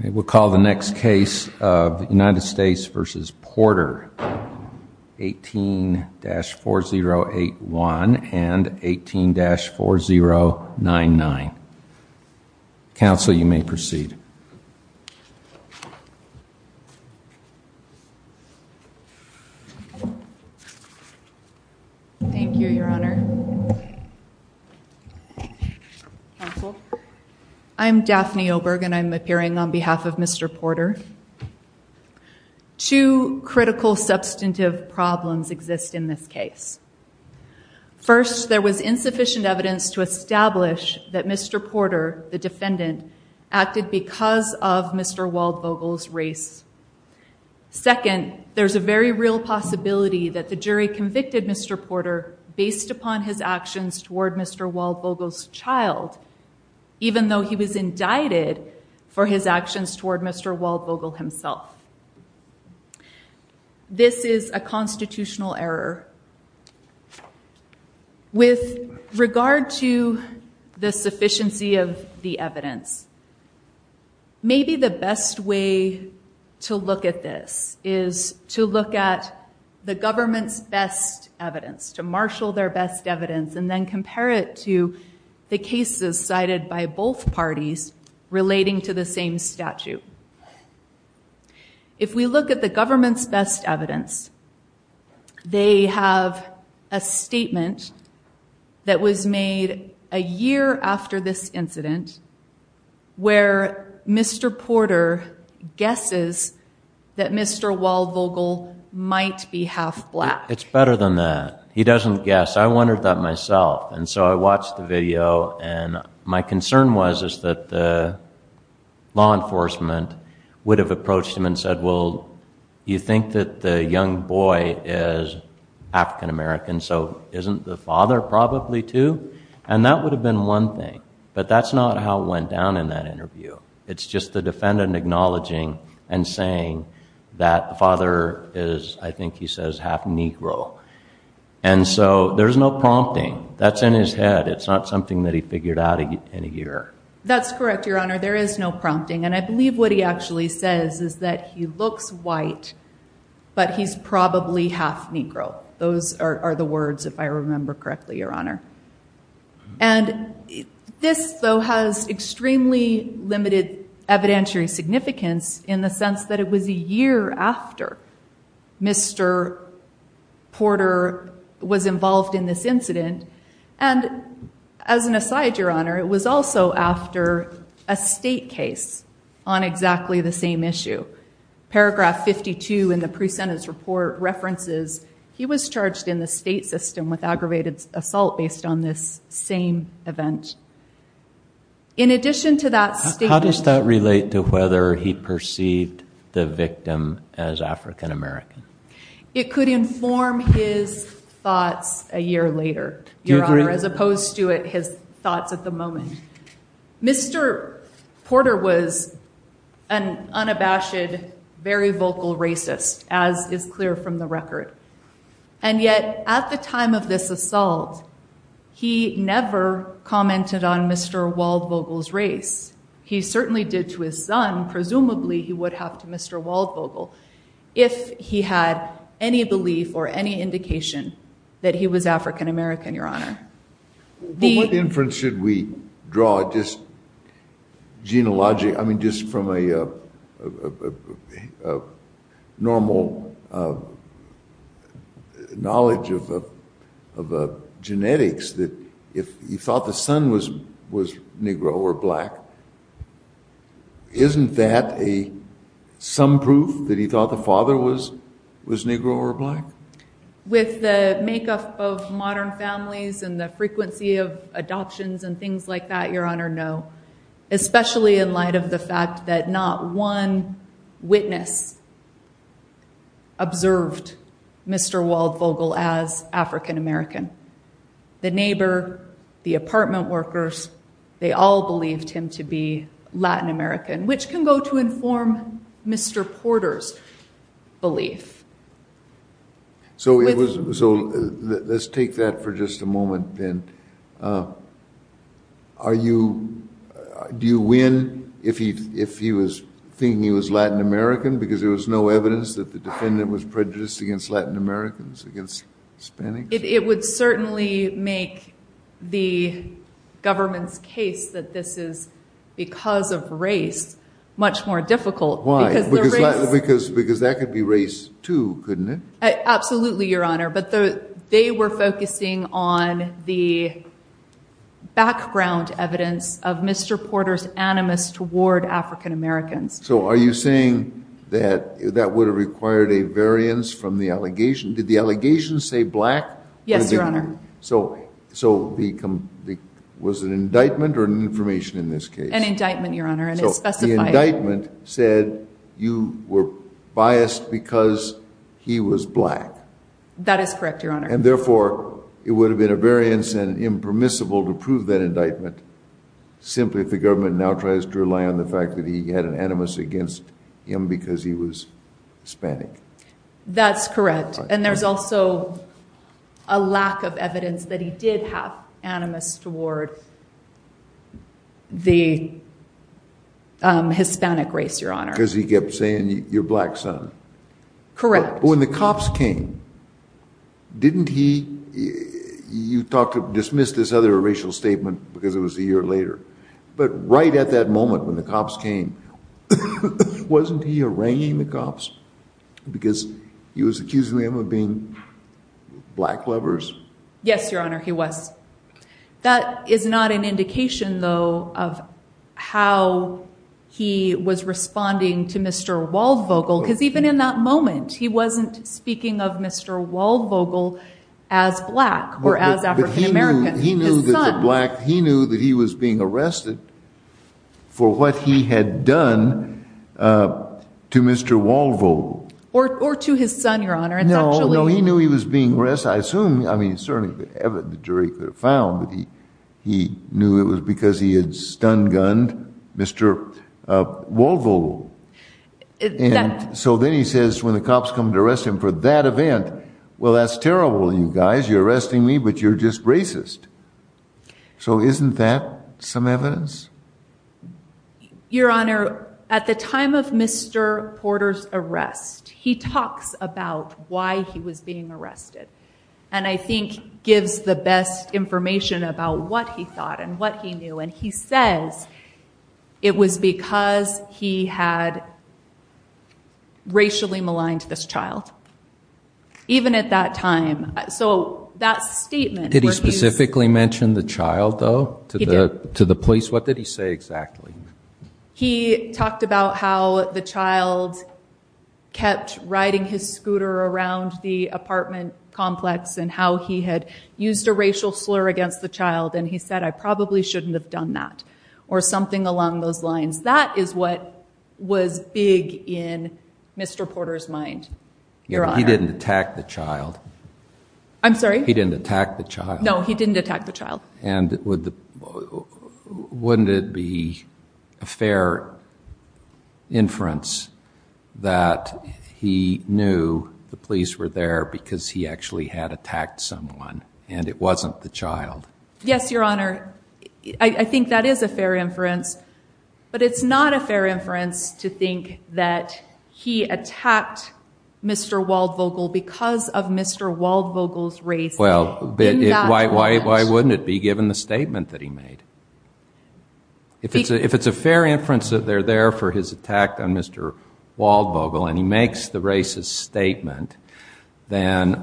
18-4081 and 18-4099. Council, you may proceed. Thank you, Your Honor. Council, I am Daphne O'Brien, and I am here on behalf of Mr. Porter. Two critical substantive problems exist in this case. First, there was insufficient evidence to establish that Mr. Porter, the defendant, acted because of Mr. Waldvogel's race. Second, there's a very real possibility that the jury convicted Mr. Porter based upon his actions toward Mr. Waldvogel's child, even though he was indicted for his actions toward Mr. Waldvogel himself. This is a constitutional error. With regard to the sufficiency of the evidence, maybe the best way to look at this is to look at the government's best evidence, to marshal their best evidence, and then compare it to the cases cited by both parties relating to the same statute. If we look at the government's best evidence, they have a statement that was made a year after this incident where Mr. Porter guesses that Mr. Waldvogel might be half black. It's better than that. He doesn't guess. I wondered that myself, and so I watched the video, and my concern was that the law enforcement would have approached him and said, well, you think that the young boy is African American, so isn't the father probably, too? That would have been one thing, but that's not how it went down in that interview. It's just the defendant acknowledging and saying that the father is, I think he says, half Negro. And so there's no prompting. That's in his head. It's not something that he figured out in a year. That's correct, Your Honor. There is no prompting, and I believe what he actually says is that he looks white, but he's probably half Negro. Those are the words, if I remember correctly, Your Honor. And this, though, has extremely limited evidentiary significance in the sense that it was a year after Mr. Porter was involved in this incident, and as an aside, Your Honor, it was also after a state case on exactly the same issue. Paragraph 52 in the pre-sentence report references he was charged in the state system with aggravated assault based on this same event. In addition to that state... How does that relate to whether he perceived the victim as African American? It could inform his thoughts a year later, Your Honor, as opposed to his thoughts at the moment. Mr. Porter was an unabashed, very vocal racist, as is clear from the record. And yet, at the time of this assault, he never commented on Mr. Waldvogel's race. He certainly did to his son. Presumably, he would have to Mr. Waldvogel if he had any belief or any indication that he was African American, Your Honor. Well, what inference should we draw, just genealogy, I mean, just from a normal, you know, knowledge of genetics, that if he thought the son was Negro or black, isn't that some proof that he thought the father was Negro or black? With the makeup of modern families and the frequency of adoptions and things like that, Your Honor, no, especially in light of the fact that not one witness observed Mr. Waldvogel as African American. The neighbor, the apartment workers, they all believed him to be Latin American, which can go to inform Mr. Porter's belief. So let's take that for just a moment, then. Do you win if he was thinking he was Latin American because there was no evidence that the defendant was prejudiced against Latin Americans, against Hispanics? It would certainly make the government's case that this is because of race much more difficult. Why? Because that could be race, too, couldn't it? Absolutely, Your Honor, but they were focusing on the background evidence of Mr. Porter's animus toward African Americans. So are you saying that that would have required a variance from the allegation? Did the allegation say black? Yes, Your Honor. So was it an indictment or an information in this case? An indictment, Your Honor, and it specified... So the indictment said you were biased because he was black. That is correct, Your Honor. And therefore, it would have been a variance and impermissible to prove that indictment simply if the government now tries to rely on the fact that he had an animus against him because he was Hispanic. That's correct, and there's also a lack of evidence that he did have animus toward the Hispanic race, Your Honor. Because he kept saying, you're black, son. Correct. But when the cops came, didn't he... You dismissed this other racial statement because it was a year later, but right at that moment when the cops came, wasn't he arranging the cops because he was accusing them of being black lovers? Yes, Your Honor, he was. That is not an indication, though, of how he was responding to Mr. Waldvogel because even in that moment, he wasn't speaking of Mr. Waldvogel as black or as African American. He knew that he was being arrested for what he had done to Mr. Waldvogel. Or to his son, Your Honor. No, he knew he was being arrested. I assume, I mean, certainly the jury could have found that he knew it was because he had stun gunned Mr. Waldvogel. So then he says when the cops come to arrest him for that event, well, that's terrible, you guys. You're arresting me but you're just racist. So isn't that some evidence? Your Honor, at the time of Mr. Porter's arrest, he talks about why he was being arrested and I think gives the best information about what he thought and what he knew. And he says it was because he had racially maligned this child, even at that time. So that statement Did he specifically mention the child, though, to the police? What did he say exactly? He talked about how the child kept riding his scooter around the apartment complex and how he had used a racial slur against the child and he said, I probably shouldn't have done that. Or something along those lines. That is what was big in Mr. Porter's mind. He didn't attack the child. I'm sorry? He didn't attack the child. No, he didn't attack the child. And wouldn't it be a fair inference that he knew the police were there because he actually had attacked someone and it wasn't the child? Yes, Your Honor. I think that is a fair inference. But it's not a fair inference to think that he attacked Mr. Waldvogel because of Mr. Waldvogel's race in that moment. Why wouldn't it be given the statement that he made? If it's a fair inference that they're there for his attack on Mr. Waldvogel and he makes the racist statement, then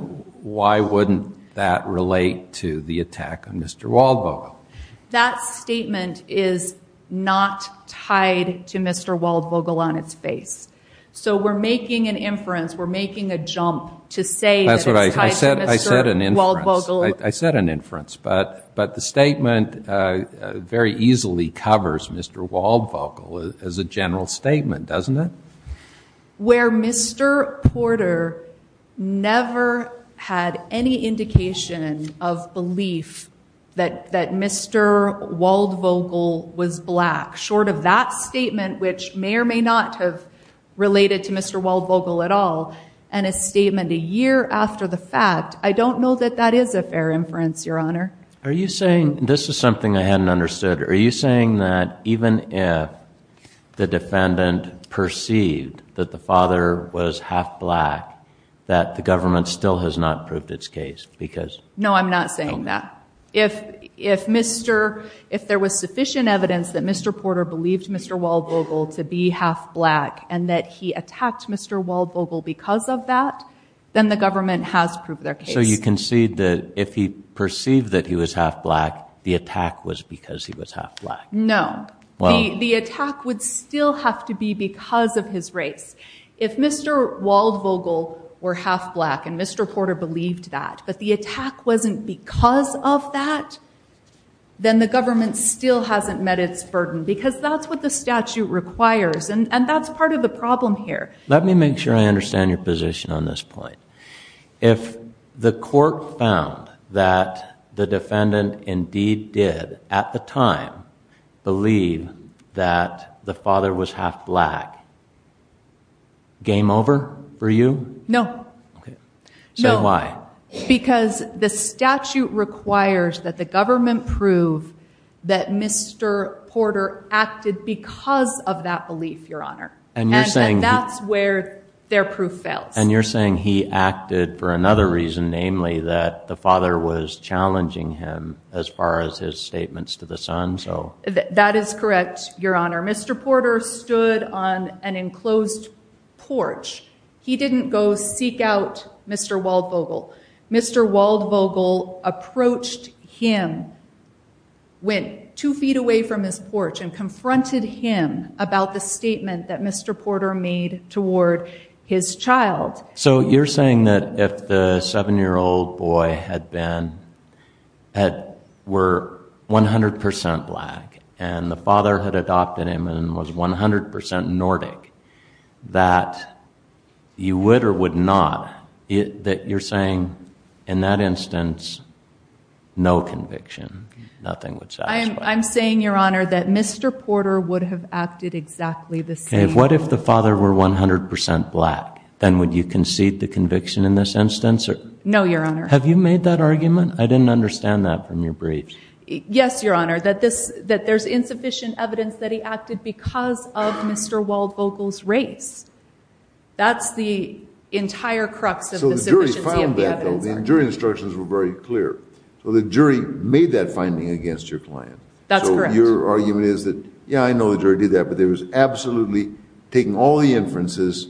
why wouldn't that relate to the attack on Mr. Waldvogel? That statement is not tied to Mr. Waldvogel on its face. So we're making an inference, we're making a jump to say that it's tied to Mr. Waldvogel. I said an inference. But the statement very easily covers Mr. Waldvogel as a general statement, doesn't it? Where Mr. Porter never had any indication of belief that Mr. Waldvogel was a racist and Mr. Waldvogel was black, short of that statement, which may or may not have related to Mr. Waldvogel at all, and a statement a year after the fact, I don't know that that is a fair inference, Your Honor. This is something I hadn't understood. Are you saying that even if the defendant perceived that the father was half black, that the government still has not proved its case? No, I'm not saying that. If there was sufficient evidence that Mr. Porter believed Mr. Waldvogel to be half black and that he attacked Mr. Waldvogel because of that, then the government has proved their case. So you concede that if he perceived that he was half black, the attack was because he was half black? No. The attack would still have to be because of his race. If Mr. Waldvogel were half black and Mr. Porter believed that, but the attack wasn't because of that, then the government still hasn't met its burden, because that's what the statute requires, and that's part of the problem here. Let me make sure I understand your position on this point. If the court found that the defendant indeed did, at the time, believe that the father was half black, game over for you? No. So why? Because the statute requires that the government prove that Mr. Porter acted because of that belief, Your Honor, and that's where their proof fails. And you're saying he acted for another reason, namely that the father was challenging him as far as his statements to the son? That is correct, Your Honor. Mr. Porter stood on an enclosed porch. He didn't go seek out Mr. Waldvogel. Mr. Waldvogel approached him, went two feet away from his porch, and confronted him about the statement that Mr. Porter made toward his child. So you're saying that if the seven-year-old boy had been, were 100 percent black, and the father had adopted him and was 100 percent Nordic, that you would or would not... that you're saying in that instance, no conviction, nothing would satisfy. I'm saying, Your Honor, that Mr. Porter would have acted exactly the same. What if the father were 100 percent black? Then would you concede the conviction in this instance or... No, Your Honor. Have you made that argument? I didn't understand that from your brief. Yes, Your Honor, that there's insufficient evidence that he acted because of Mr. Waldvogel's race. That's the entire crux of the sufficiency of the evidence. So the jury found that, though. The jury instructions were very clear. So the jury made that finding against your client. That's correct. So your argument is that, yeah, I know the jury did that, but they were absolutely taking all the inferences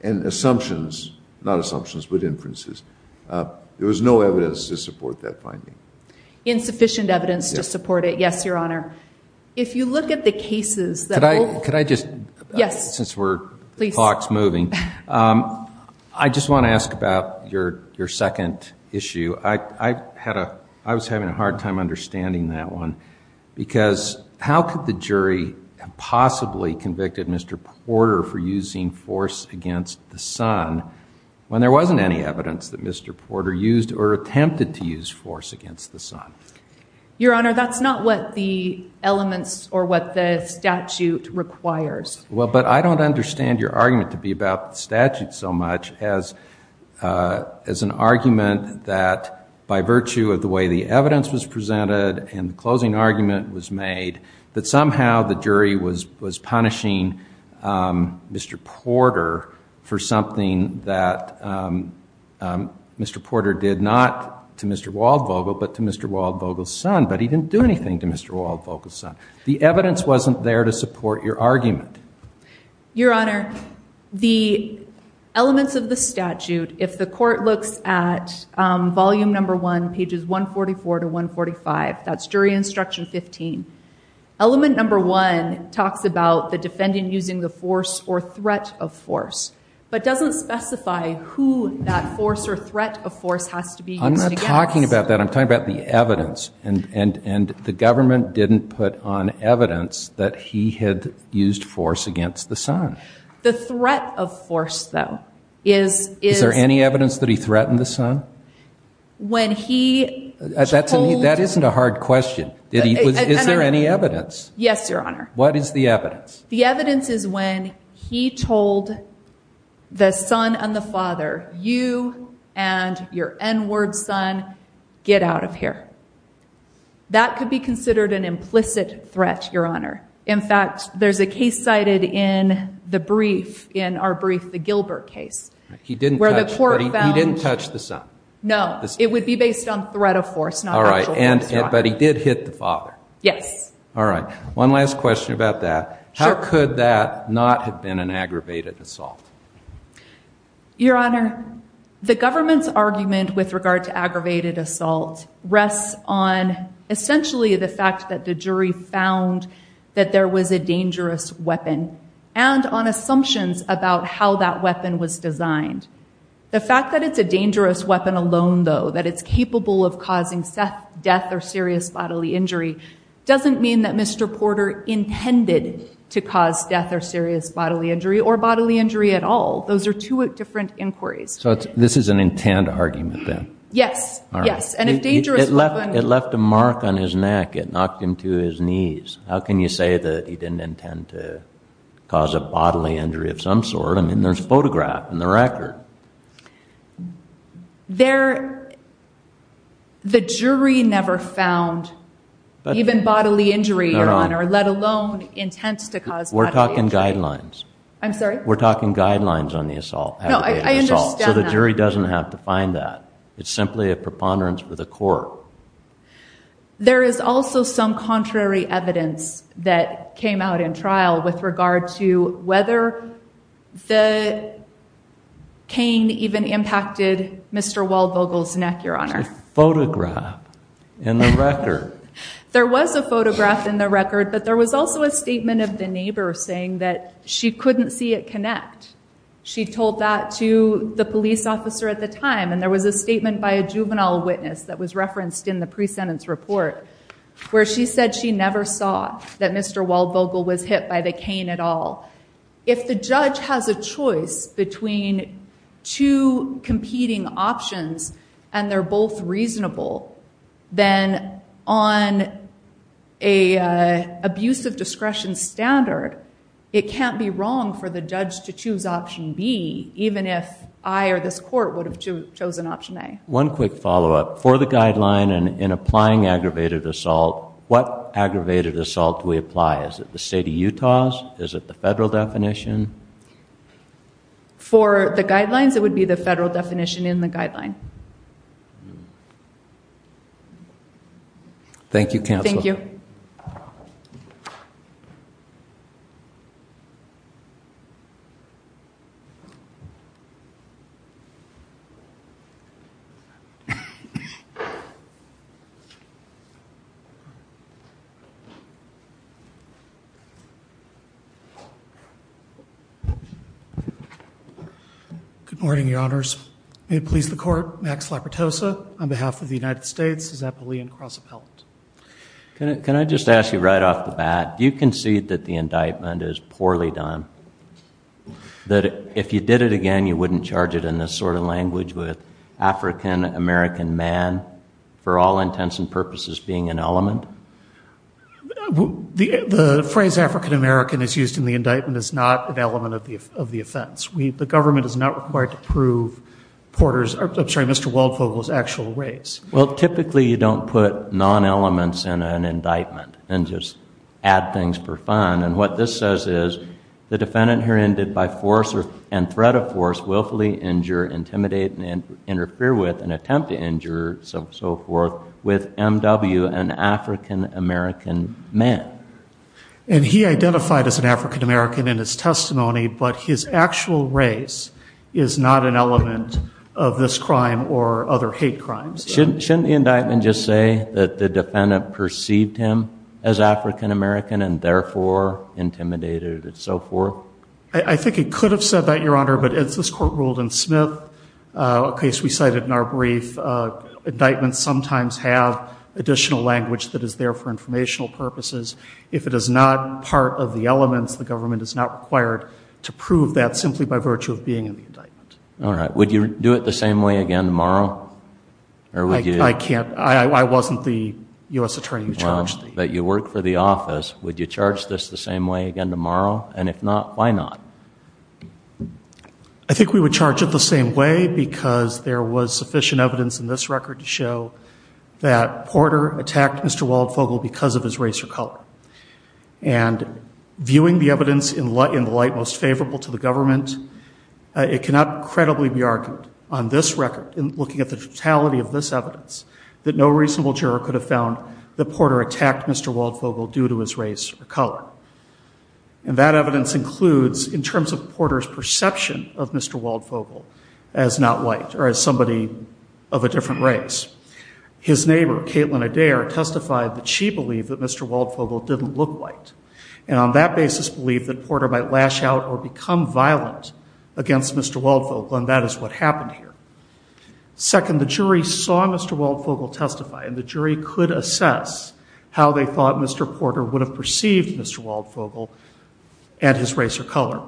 and assumptions, not assumptions, but inferences. There was no evidence to support that finding. Insufficient evidence to support it. Yes, Your Honor. If you look at the cases... Could I just... Yes. Since we're... Please. The clock's moving. I just want to ask about your second issue. I had a... I was having a hard time understanding that one because how could the jury have possibly convicted Mr. Porter for using force against the son when there wasn't any evidence that Mr. Porter used or attempted to use force against the son? Your Honor, that's not what the elements or what the statute requires. Well, but I don't understand your argument to be about the statute so much as an argument that by virtue of the way the evidence was presented and the closing argument was made, that somehow the jury was punishing Mr. Porter for something that Mr. Porter did not do. To Mr. Waldvogel, but to Mr. Waldvogel's son, but he didn't do anything to Mr. Waldvogel's son. The evidence wasn't there to support your argument. Your Honor, the elements of the statute, if the court looks at volume number one, pages 144 to 145, that's jury instruction 15. Element number one talks about the defendant using the force or threat of force, but doesn't specify who that force or threat of force has to be used against. I'm not talking about that. I'm talking about the evidence and the government didn't put on evidence that he had used force against the son. The threat of force, though, is... Is there any evidence that he threatened the son? When he told... That isn't a hard question. Is there any evidence? Yes, Your Honor. What is the evidence? The evidence is when he told the son and the father, you and your N-word son, get out of here. That could be considered an implicit threat, Your Honor. In fact, there's a case cited in the brief, in our brief, the Gilbert case, where the court found... He didn't touch the son. No. It would be based on threat of force, not actual force. But he did hit the father. Yes. All right. One last question about that. How could that not have been an aggravated assault? Your Honor, the government's argument with regard to aggravated assault rests on essentially the fact that the jury found that there was a dangerous weapon, and on assumptions about how that weapon was designed. The fact that it's a dangerous weapon alone, though, that it's capable of causing death or serious bodily injury doesn't mean that Mr. Porter intended to cause death or serious bodily injury, or bodily injury at all. Those are two different inquiries. So this is an intent argument, then? Yes. Yes. And if dangerous weapon... It left a mark on his neck. It knocked him to his knees. How can you say that he didn't intend to cause a bodily injury of some sort? There's a photograph in the record. The jury never found even bodily injury, Your Honor, let alone intent to cause bodily injury. We're talking guidelines. I'm sorry? We're talking guidelines on the aggravated assault. No, I understand that. So the jury doesn't have to find that. It's simply a preponderance for the court. There is also some contrary evidence that came out in trial with regard to whether the cane even impacted Mr. Waldvogel's neck, Your Honor. There's a photograph in the record. There was a photograph in the record, but there was also a statement of the neighbor saying that she couldn't see it connect. She told that to the police officer at the time, and there was a statement by a juvenile witness that was referenced in the pre-sentence report where she said she never saw that Mr. Waldvogel was hit by the cane at all. If the judge has a choice between two competing options and they're both reasonable, then on an abuse of discretion standard, it can't be wrong for the judge to choose option B, even if I or this court would have chosen option A. One quick follow-up. For the guideline and in applying aggravated assault, what aggravated assault do we apply? Is it the state of Utah's? Is it the federal definition? For the guidelines, it would be the federal definition in the guideline. Thank you, counsel. Thank you. Good morning, Your Honors. May it please the court, Max Laportosa, on behalf of the United States as appellee and cross-appellant. Can I just ask you right off the bat, do you concede that the indictment is poorly done? That if you did it again, you wouldn't charge it in this sort of language with African-American man, for all intents and purposes, being an element? The phrase African-American is used in the indictment is not an element of the offense. The government is not required to prove Porter's, I'm sorry, Mr. Waldvogel's actual race. Well, typically you don't put non-elements in an indictment and just add things for fun. And what this says is the defendant here ended by force and threat of force, willfully injure, intimidate and interfere with, and attempt to injure, so forth, with M.W., an African-American man. And he identified as an African-American in his testimony, but his actual race is not an element of this crime or other hate crimes. Shouldn't the indictment just say that the defendant perceived him as African-American and therefore intimidated and so forth? I think it could have said that, Your Honor, but as this Court ruled in Smith, a case we cited in our brief, indictments sometimes have additional language that is there for informational purposes. If it is not part of the elements, the government is not required to prove that simply by virtue of being in the indictment. All right. Would you do it the same way again tomorrow? I can't. I wasn't the U.S. Attorney who charged me. Well, but you work for the office. Would you charge this the same way again tomorrow? And if not, why not? I think we would charge it the same way because there was sufficient evidence in this record to show that Porter attacked Mr. Waldvogel because of his race or color. And viewing the evidence in the light most favorable to the government, it cannot credibly be argued on this record, in looking at the totality of this evidence, that no reasonable juror could have found that Porter attacked Mr. Waldvogel due to his race or color. And that evidence includes, in terms of Porter's perception of Mr. Waldvogel as not white or as somebody of a different race, his neighbor, Caitlin Adair, testified that she believed that Mr. Waldvogel didn't look white, and on that basis believed that Porter might lash out or become violent against Mr. Waldvogel, and that is what happened here. Second, the jury saw Mr. Waldvogel testify, and the jury could assess how they thought Mr. Porter would have perceived Mr. Waldvogel and his race or color.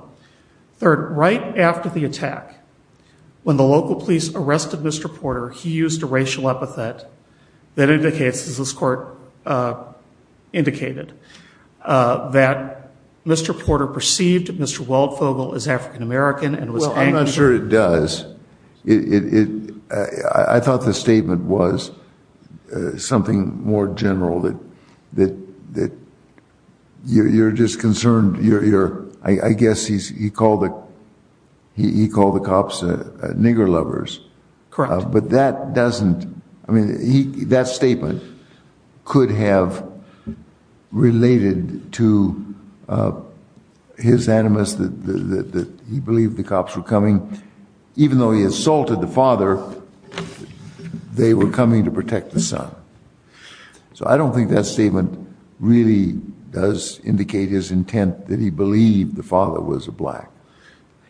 Third, right after the attack, when the local police arrested Mr. Porter, he used a racial epithet that indicates, as this court indicated, that Mr. Porter perceived Mr. Waldvogel as African-American and was angry. Well, I'm not sure it does. I thought the statement was something more general, that you're just concerned. I guess he called the cops nigger lovers. Correct. But that doesn't, I mean, that statement could have related to his animus that he believed the cops were coming. Even though he assaulted the father, they were coming to protect the son. So I don't think that statement really does indicate his intent that he believed the father was a black.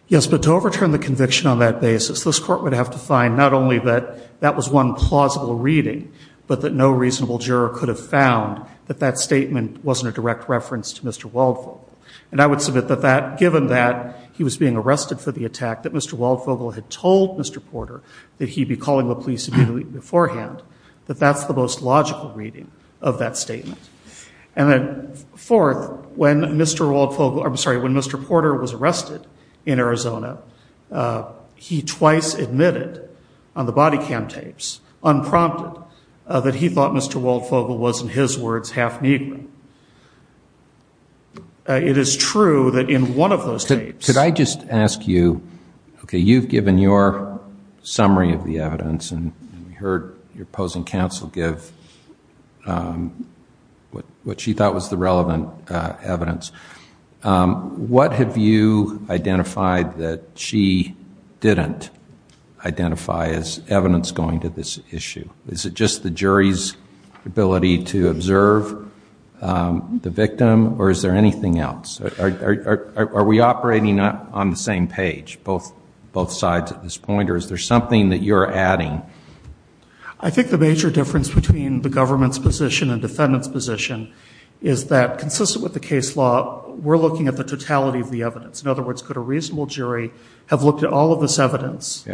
Yes, but to overturn the conviction on that basis, this court would have to find not only that that was one plausible reading, but that no reasonable juror could have found that that statement wasn't a direct reference to Mr. Waldvogel. And I would submit that given that he was being arrested for the attack, that Mr. Waldvogel had told Mr. Porter that he'd be calling the police immediately beforehand, that that's the most logical reading of that statement. And then fourth, when Mr. Waldvogel, I'm sorry, when Mr. Porter was arrested in Arizona, he twice admitted on the body cam tapes, unprompted, that he thought Mr. Waldvogel was, in his words, half nigger. It is true that in one of those tapes. Could I just ask you, OK, you've given your summary of the evidence, and we heard your opposing counsel give what she thought was the relevant evidence. What have you identified that she didn't identify as evidence going to this issue? Is it just the jury's ability to observe the victim, or is there anything else? Are we operating on the same page, both sides at this point, or is there something that you're adding? I think the major difference between the government's position and defendant's position is that, consistent with the case law, we're looking at the totality of the evidence. In other words, could a reasonable jury have looked at all of this evidence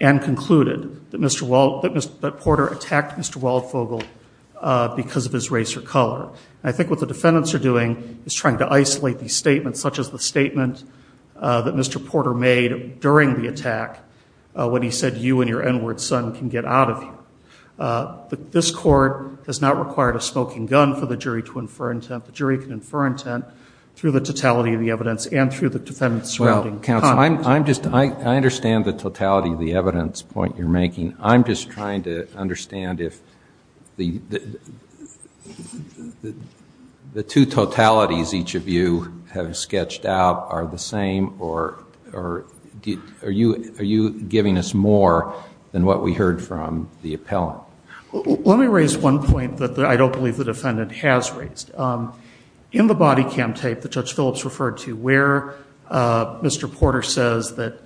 and concluded that Porter attacked Mr. Waldvogel because of his race or color? I think what the defendants are doing is trying to isolate these statements, such as the statement that Mr. Porter made during the attack when he said, you and your n-word son can get out of here. This court has not required a smoking gun for the jury to infer intent. The jury can infer intent through the totality of the evidence and through the defendant's surrounding comment. Well, counsel, I understand the totality of the evidence point you're making. I'm just trying to understand if the two totalities each of you have sketched out are the same, or are you giving us more than what we heard from the appellant? Let me raise one point that I don't believe the defendant has raised. In the body cam tape that Judge Phillips referred to where Mr. Porter says that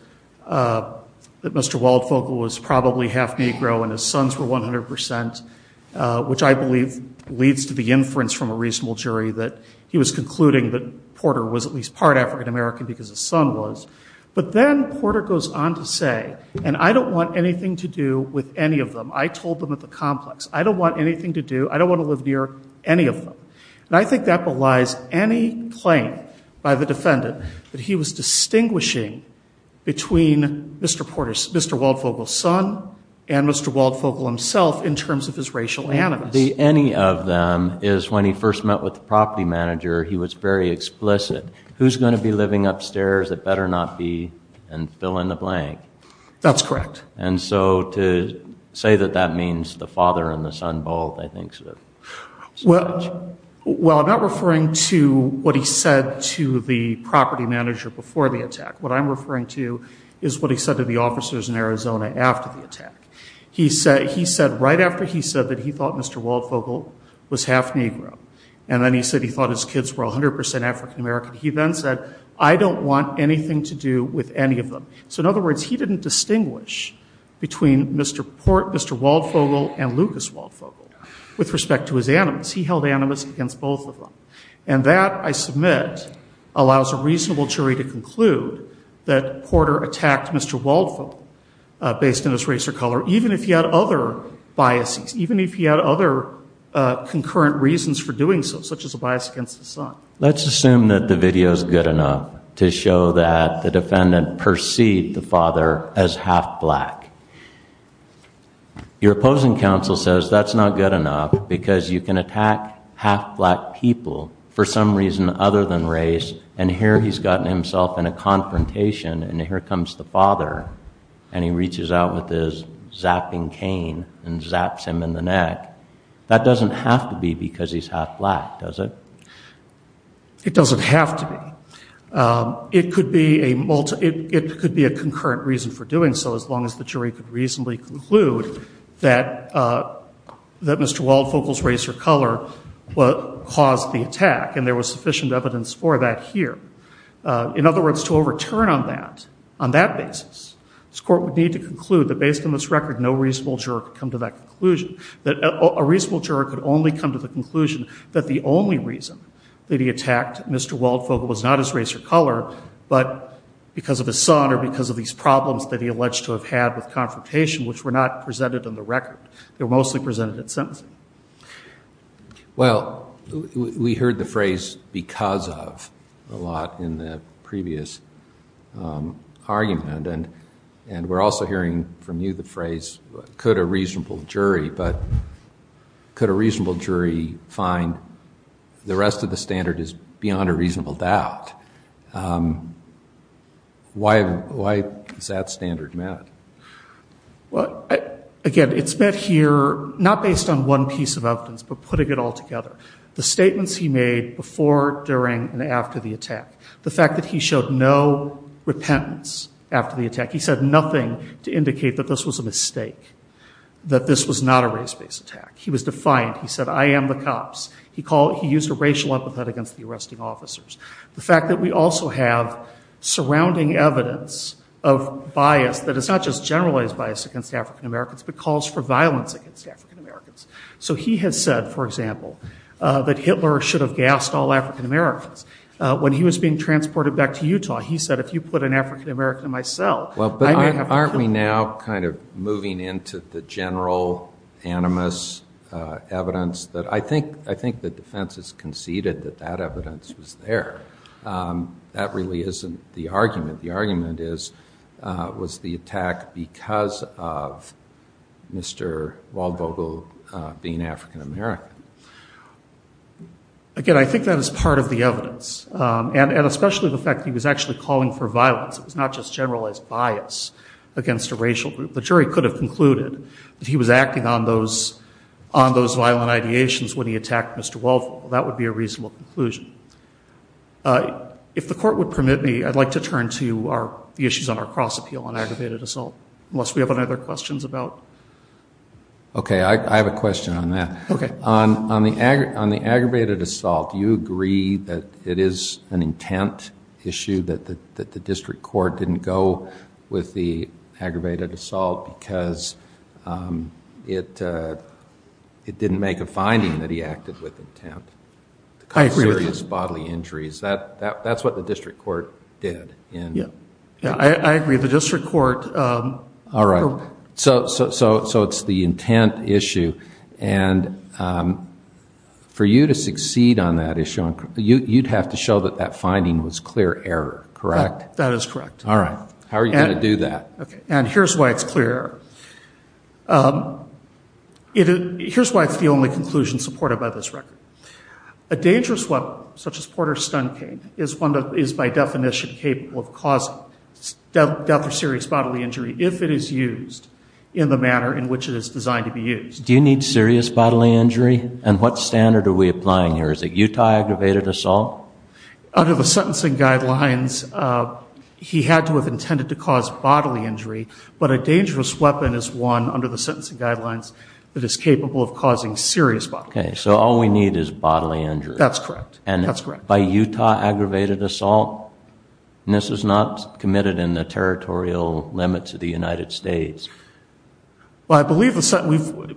Mr. Waldvogel was probably half Negro and his sons were 100%, which I believe leads to the inference from a reasonable jury that he was concluding that Porter was at least part African American because his son was. But then Porter goes on to say, and I don't want anything to do with any of them. I told them at the complex. I don't want anything to do, I don't want to live near any of them. And I think that belies any claim by the defendant that he was distinguishing between Mr. Porter's, Mr. Waldvogel's son and Mr. Waldvogel himself in terms of his racial animus. The any of them is when he first met with the property manager, he was very explicit. Who's going to be living upstairs? It better not be and fill in the blank. That's correct. And so to say that that means the father and the son both, I think. Well, I'm not referring to what he said to the property manager before the attack. What I'm referring to is what he said to the officers in Arizona after the attack. He said right after he said that he thought Mr. Waldvogel was half Negro and then he said he thought his kids were 100% African American. He then said, I don't want anything to do with any of them. So, in other words, he didn't distinguish between Mr. Porter, Mr. Waldvogel and Lucas Waldvogel with respect to his animus. He held animus against both of them. And that, I submit, allows a reasonable jury to conclude that Porter attacked Mr. Waldvogel based on his race or color, even if he had other biases, even if he had other concurrent reasons for doing so, such as a bias against his son. Let's assume that the video is good enough to show that the defendant perceived the father as half black. Your opposing counsel says that's not good enough because you can attack half black people for some reason other than race. And here he's gotten himself in a confrontation. And here comes the father. And he reaches out with his zapping cane and zaps him in the neck. That doesn't have to be because he's half black, does it? It doesn't have to be. It could be a concurrent reason for doing so, as long as the jury could reasonably conclude that Mr. Waldvogel's race or color caused the attack. And there was sufficient evidence for that here. In other words, to overturn on that basis, this Court would need to conclude that based on this record, no reasonable juror could come to that conclusion, that a reasonable juror could only come to the conclusion that the only reason that he attacked Mr. Waldvogel was not his race or color, but because of his son or because of these problems that he alleged to have had with confrontation, which were not presented in the record. They were mostly presented in sentencing. Well, we heard the phrase because of a lot in the previous argument. And we're also hearing from you the phrase, could a reasonable jury, but could a reasonable jury find the rest of the standard is beyond a reasonable doubt? Why is that standard met? Again, it's met here not based on one piece of evidence, but putting it all together. The statements he made before, during, and after the attack. The fact that he showed no repentance after the attack. He said nothing to indicate that this was a mistake, that this was not a race-based attack. He was defiant. He said, I am the cops. He used a racial empathetic against the arresting officers. The fact that we also have surrounding evidence of bias that is not just generalized bias against African Americans, but calls for violence against African Americans. So he has said, for example, that Hitler should have gassed all African Americans. When he was being transported back to Utah, he said, if you put an African American in my cell, I may have to kill you. Well, but aren't we now kind of moving into the general animus evidence that I think the defense has conceded that that evidence was there. That really isn't the argument. The argument is, was the attack because of Mr. Waldvogel being African American? Again, I think that is part of the evidence. And especially the fact that he was actually calling for violence. It was not just generalized bias against a racial group. The jury could have concluded that he was acting on those violent ideations when he attacked Mr. Waldvogel. That would be a reasonable conclusion. If the court would permit me, I'd like to turn to the issues on our cross-appeal on aggravated assault. Unless we have any other questions about? Okay, I have a question on that. On the aggravated assault, do you agree that it is an intent issue that the district court didn't go with the aggravated assault because it didn't make a finding that he acted with intent? I agree. Serious bodily injuries. That's what the district court did. Yeah, I agree. The district court. All right. So it's the intent issue. And for you to succeed on that issue, you'd have to show that that finding was clear error, correct? That is correct. All right. How are you going to do that? And here's why it's clear error. Here's why it's the only conclusion supported by this record. A dangerous weapon, such as Porter's stun cane, is by definition capable of causing death or serious bodily injury if it is used in the manner in which it is designed to be used. Do you need serious bodily injury? And what standard are we applying here? Is it Utah aggravated assault? Under the sentencing guidelines, he had to have intended to cause bodily injury. But a dangerous weapon is one, under the sentencing guidelines, that is capable of causing serious bodily injury. Okay. So all we need is bodily injury. That's correct. That's correct. And by Utah aggravated assault? And this is not committed in the territorial limits of the United States. Well, I believe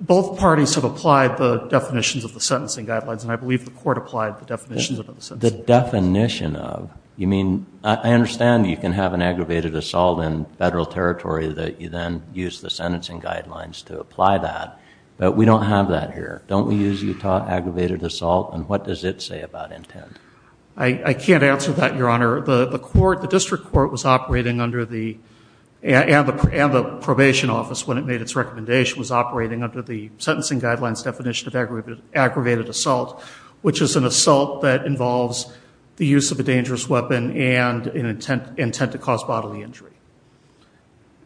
both parties have applied the definitions of the sentencing guidelines, and I believe the court applied the definitions of the sentencing guidelines. The definition of? You mean, I understand you can have an aggravated assault in federal territory that you then use the sentencing guidelines to apply that. But we don't have that here. Don't we use Utah aggravated assault? And what does it say about intent? I can't answer that, Your Honor. The court, the district court was operating under the, and the probation office, when it made its recommendation, was operating under the sentencing guidelines definition of aggravated assault, which is an assault that involves the use of a dangerous weapon and an intent to cause bodily injury.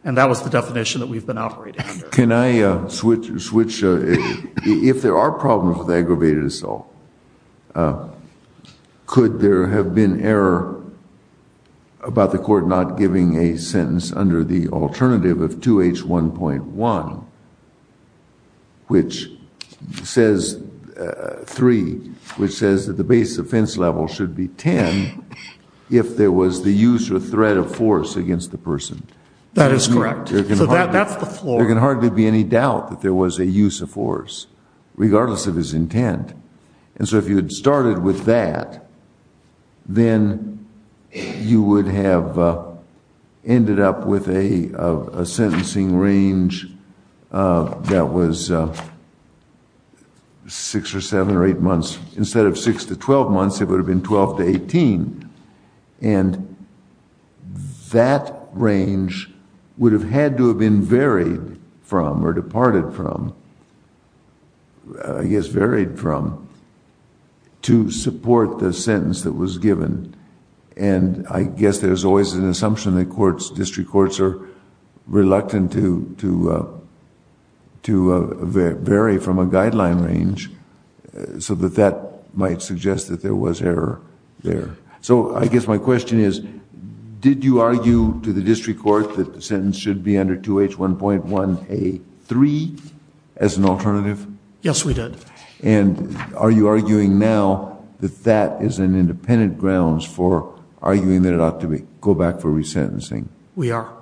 And that was the definition that we've been operating under. Can I switch, if there are problems with aggravated assault, could there have been error about the court not giving a sentence under the alternative of 2H1.1, which says, 3, which says that the base offense level should be 10 if there was the use or threat of force against the person. That is correct. So that's the floor. There can hardly be any doubt that there was a use of force, regardless of his intent. And so if you had started with that, then you would have ended up with a sentencing range that was 6 or 7 or 8 months. Instead of 6 to 12 months, it would have been 12 to 18. And that range would have had to have been varied from or departed from, I guess varied from, to support the sentence that was given. And I guess there's always an assumption that courts, district courts, are reluctant to vary from a guideline range so that that might suggest that there was error there. So I guess my question is, did you argue to the district court that the sentence should be under 2H1.1A3 as an alternative? Yes, we did. And are you arguing now that that is an independent grounds for arguing that it ought to go back for resentencing? We are.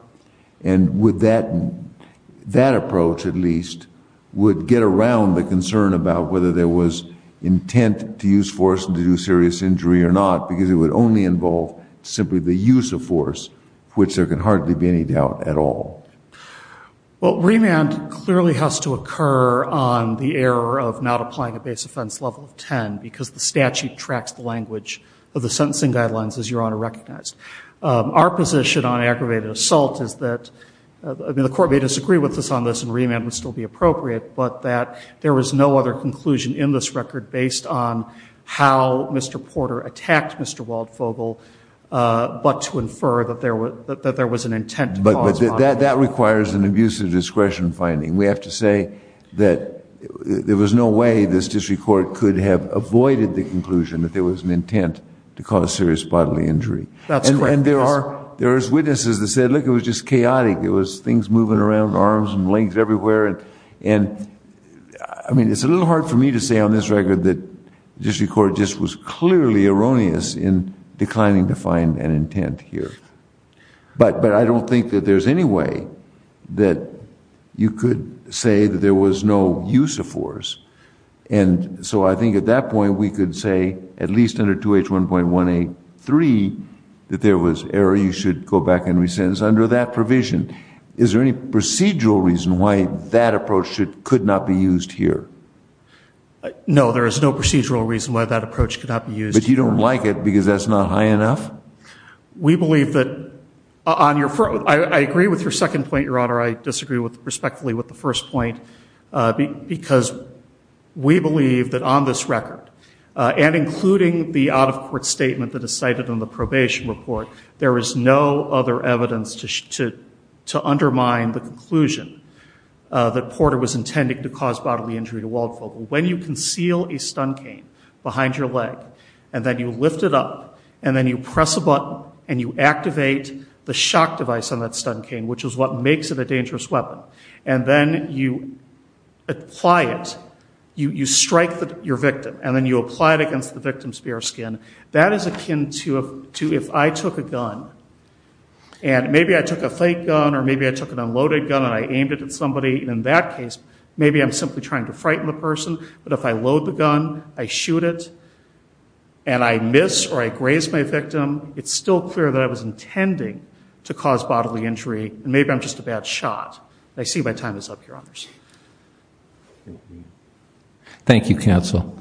And would that approach, at least, would get around the concern about whether there was intent to use force and to do serious injury or not, because it would only involve simply the use of force, which there can hardly be any doubt at all. Well, remand clearly has to occur on the error of not applying a base offense level of 10, because the statute tracks the language of the sentencing guidelines, as Your Honor recognized. Our position on aggravated assault is that, I mean, the court may disagree with us on this, and remand would still be appropriate, but that there was no other conclusion in this record based on how Mr. Porter attacked Mr. Waldfogel, but to infer that there was an intent to cause bodily injury. But that requires an abusive discretion finding. We have to say that there was no way this district court could have avoided the conclusion that there was an intent to cause serious bodily injury. And there are witnesses that said, look, it was just chaotic. It was things moving around, arms and legs everywhere. And, I mean, it's a little hard for me to say on this record that the district court just was clearly erroneous in declining to find an intent here. But I don't think that there's any way that you could say that there was no use of force. And so I think at that point we could say, at least under 2H1.183, that there was error. You should go back and rescind. It's under that provision. Is there any procedural reason why that approach could not be used here? No, there is no procedural reason why that approach could not be used. But you don't like it because that's not high enough? We believe that on your first, I agree with your second point, Your Honor. I disagree respectfully with the first point. Because we believe that on this record, and including the out-of-court statement that is cited in the probation report, there is no other evidence to undermine the conclusion that Porter was intending to cause bodily injury to Waldfogel. When you conceal a stun cane behind your leg, and then you lift it up, and then you press a button, and you activate the shock device on that stun cane, which is what makes it a dangerous weapon, and then you apply it, you strike your victim, and then you apply it against the victim's bare skin, that is akin to if I took a gun, and maybe I took a fake gun, or maybe I took an unloaded gun and I aimed it at somebody, and in that case, maybe I'm simply trying to frighten the person, but if I load the gun, I shoot it, and I miss or I graze my victim, it's still clear that I was intending to cause bodily injury, and maybe I'm just a bad shot. I see my time is up, Your Honors. Thank you, counsel. Counsel,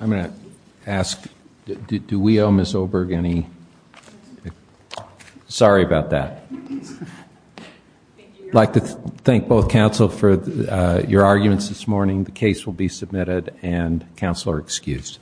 I'm going to ask, do we owe Ms. Oberg any? Sorry about that. I'd like to thank both counsel for your arguments this morning. The case will be submitted, and counsel are excused.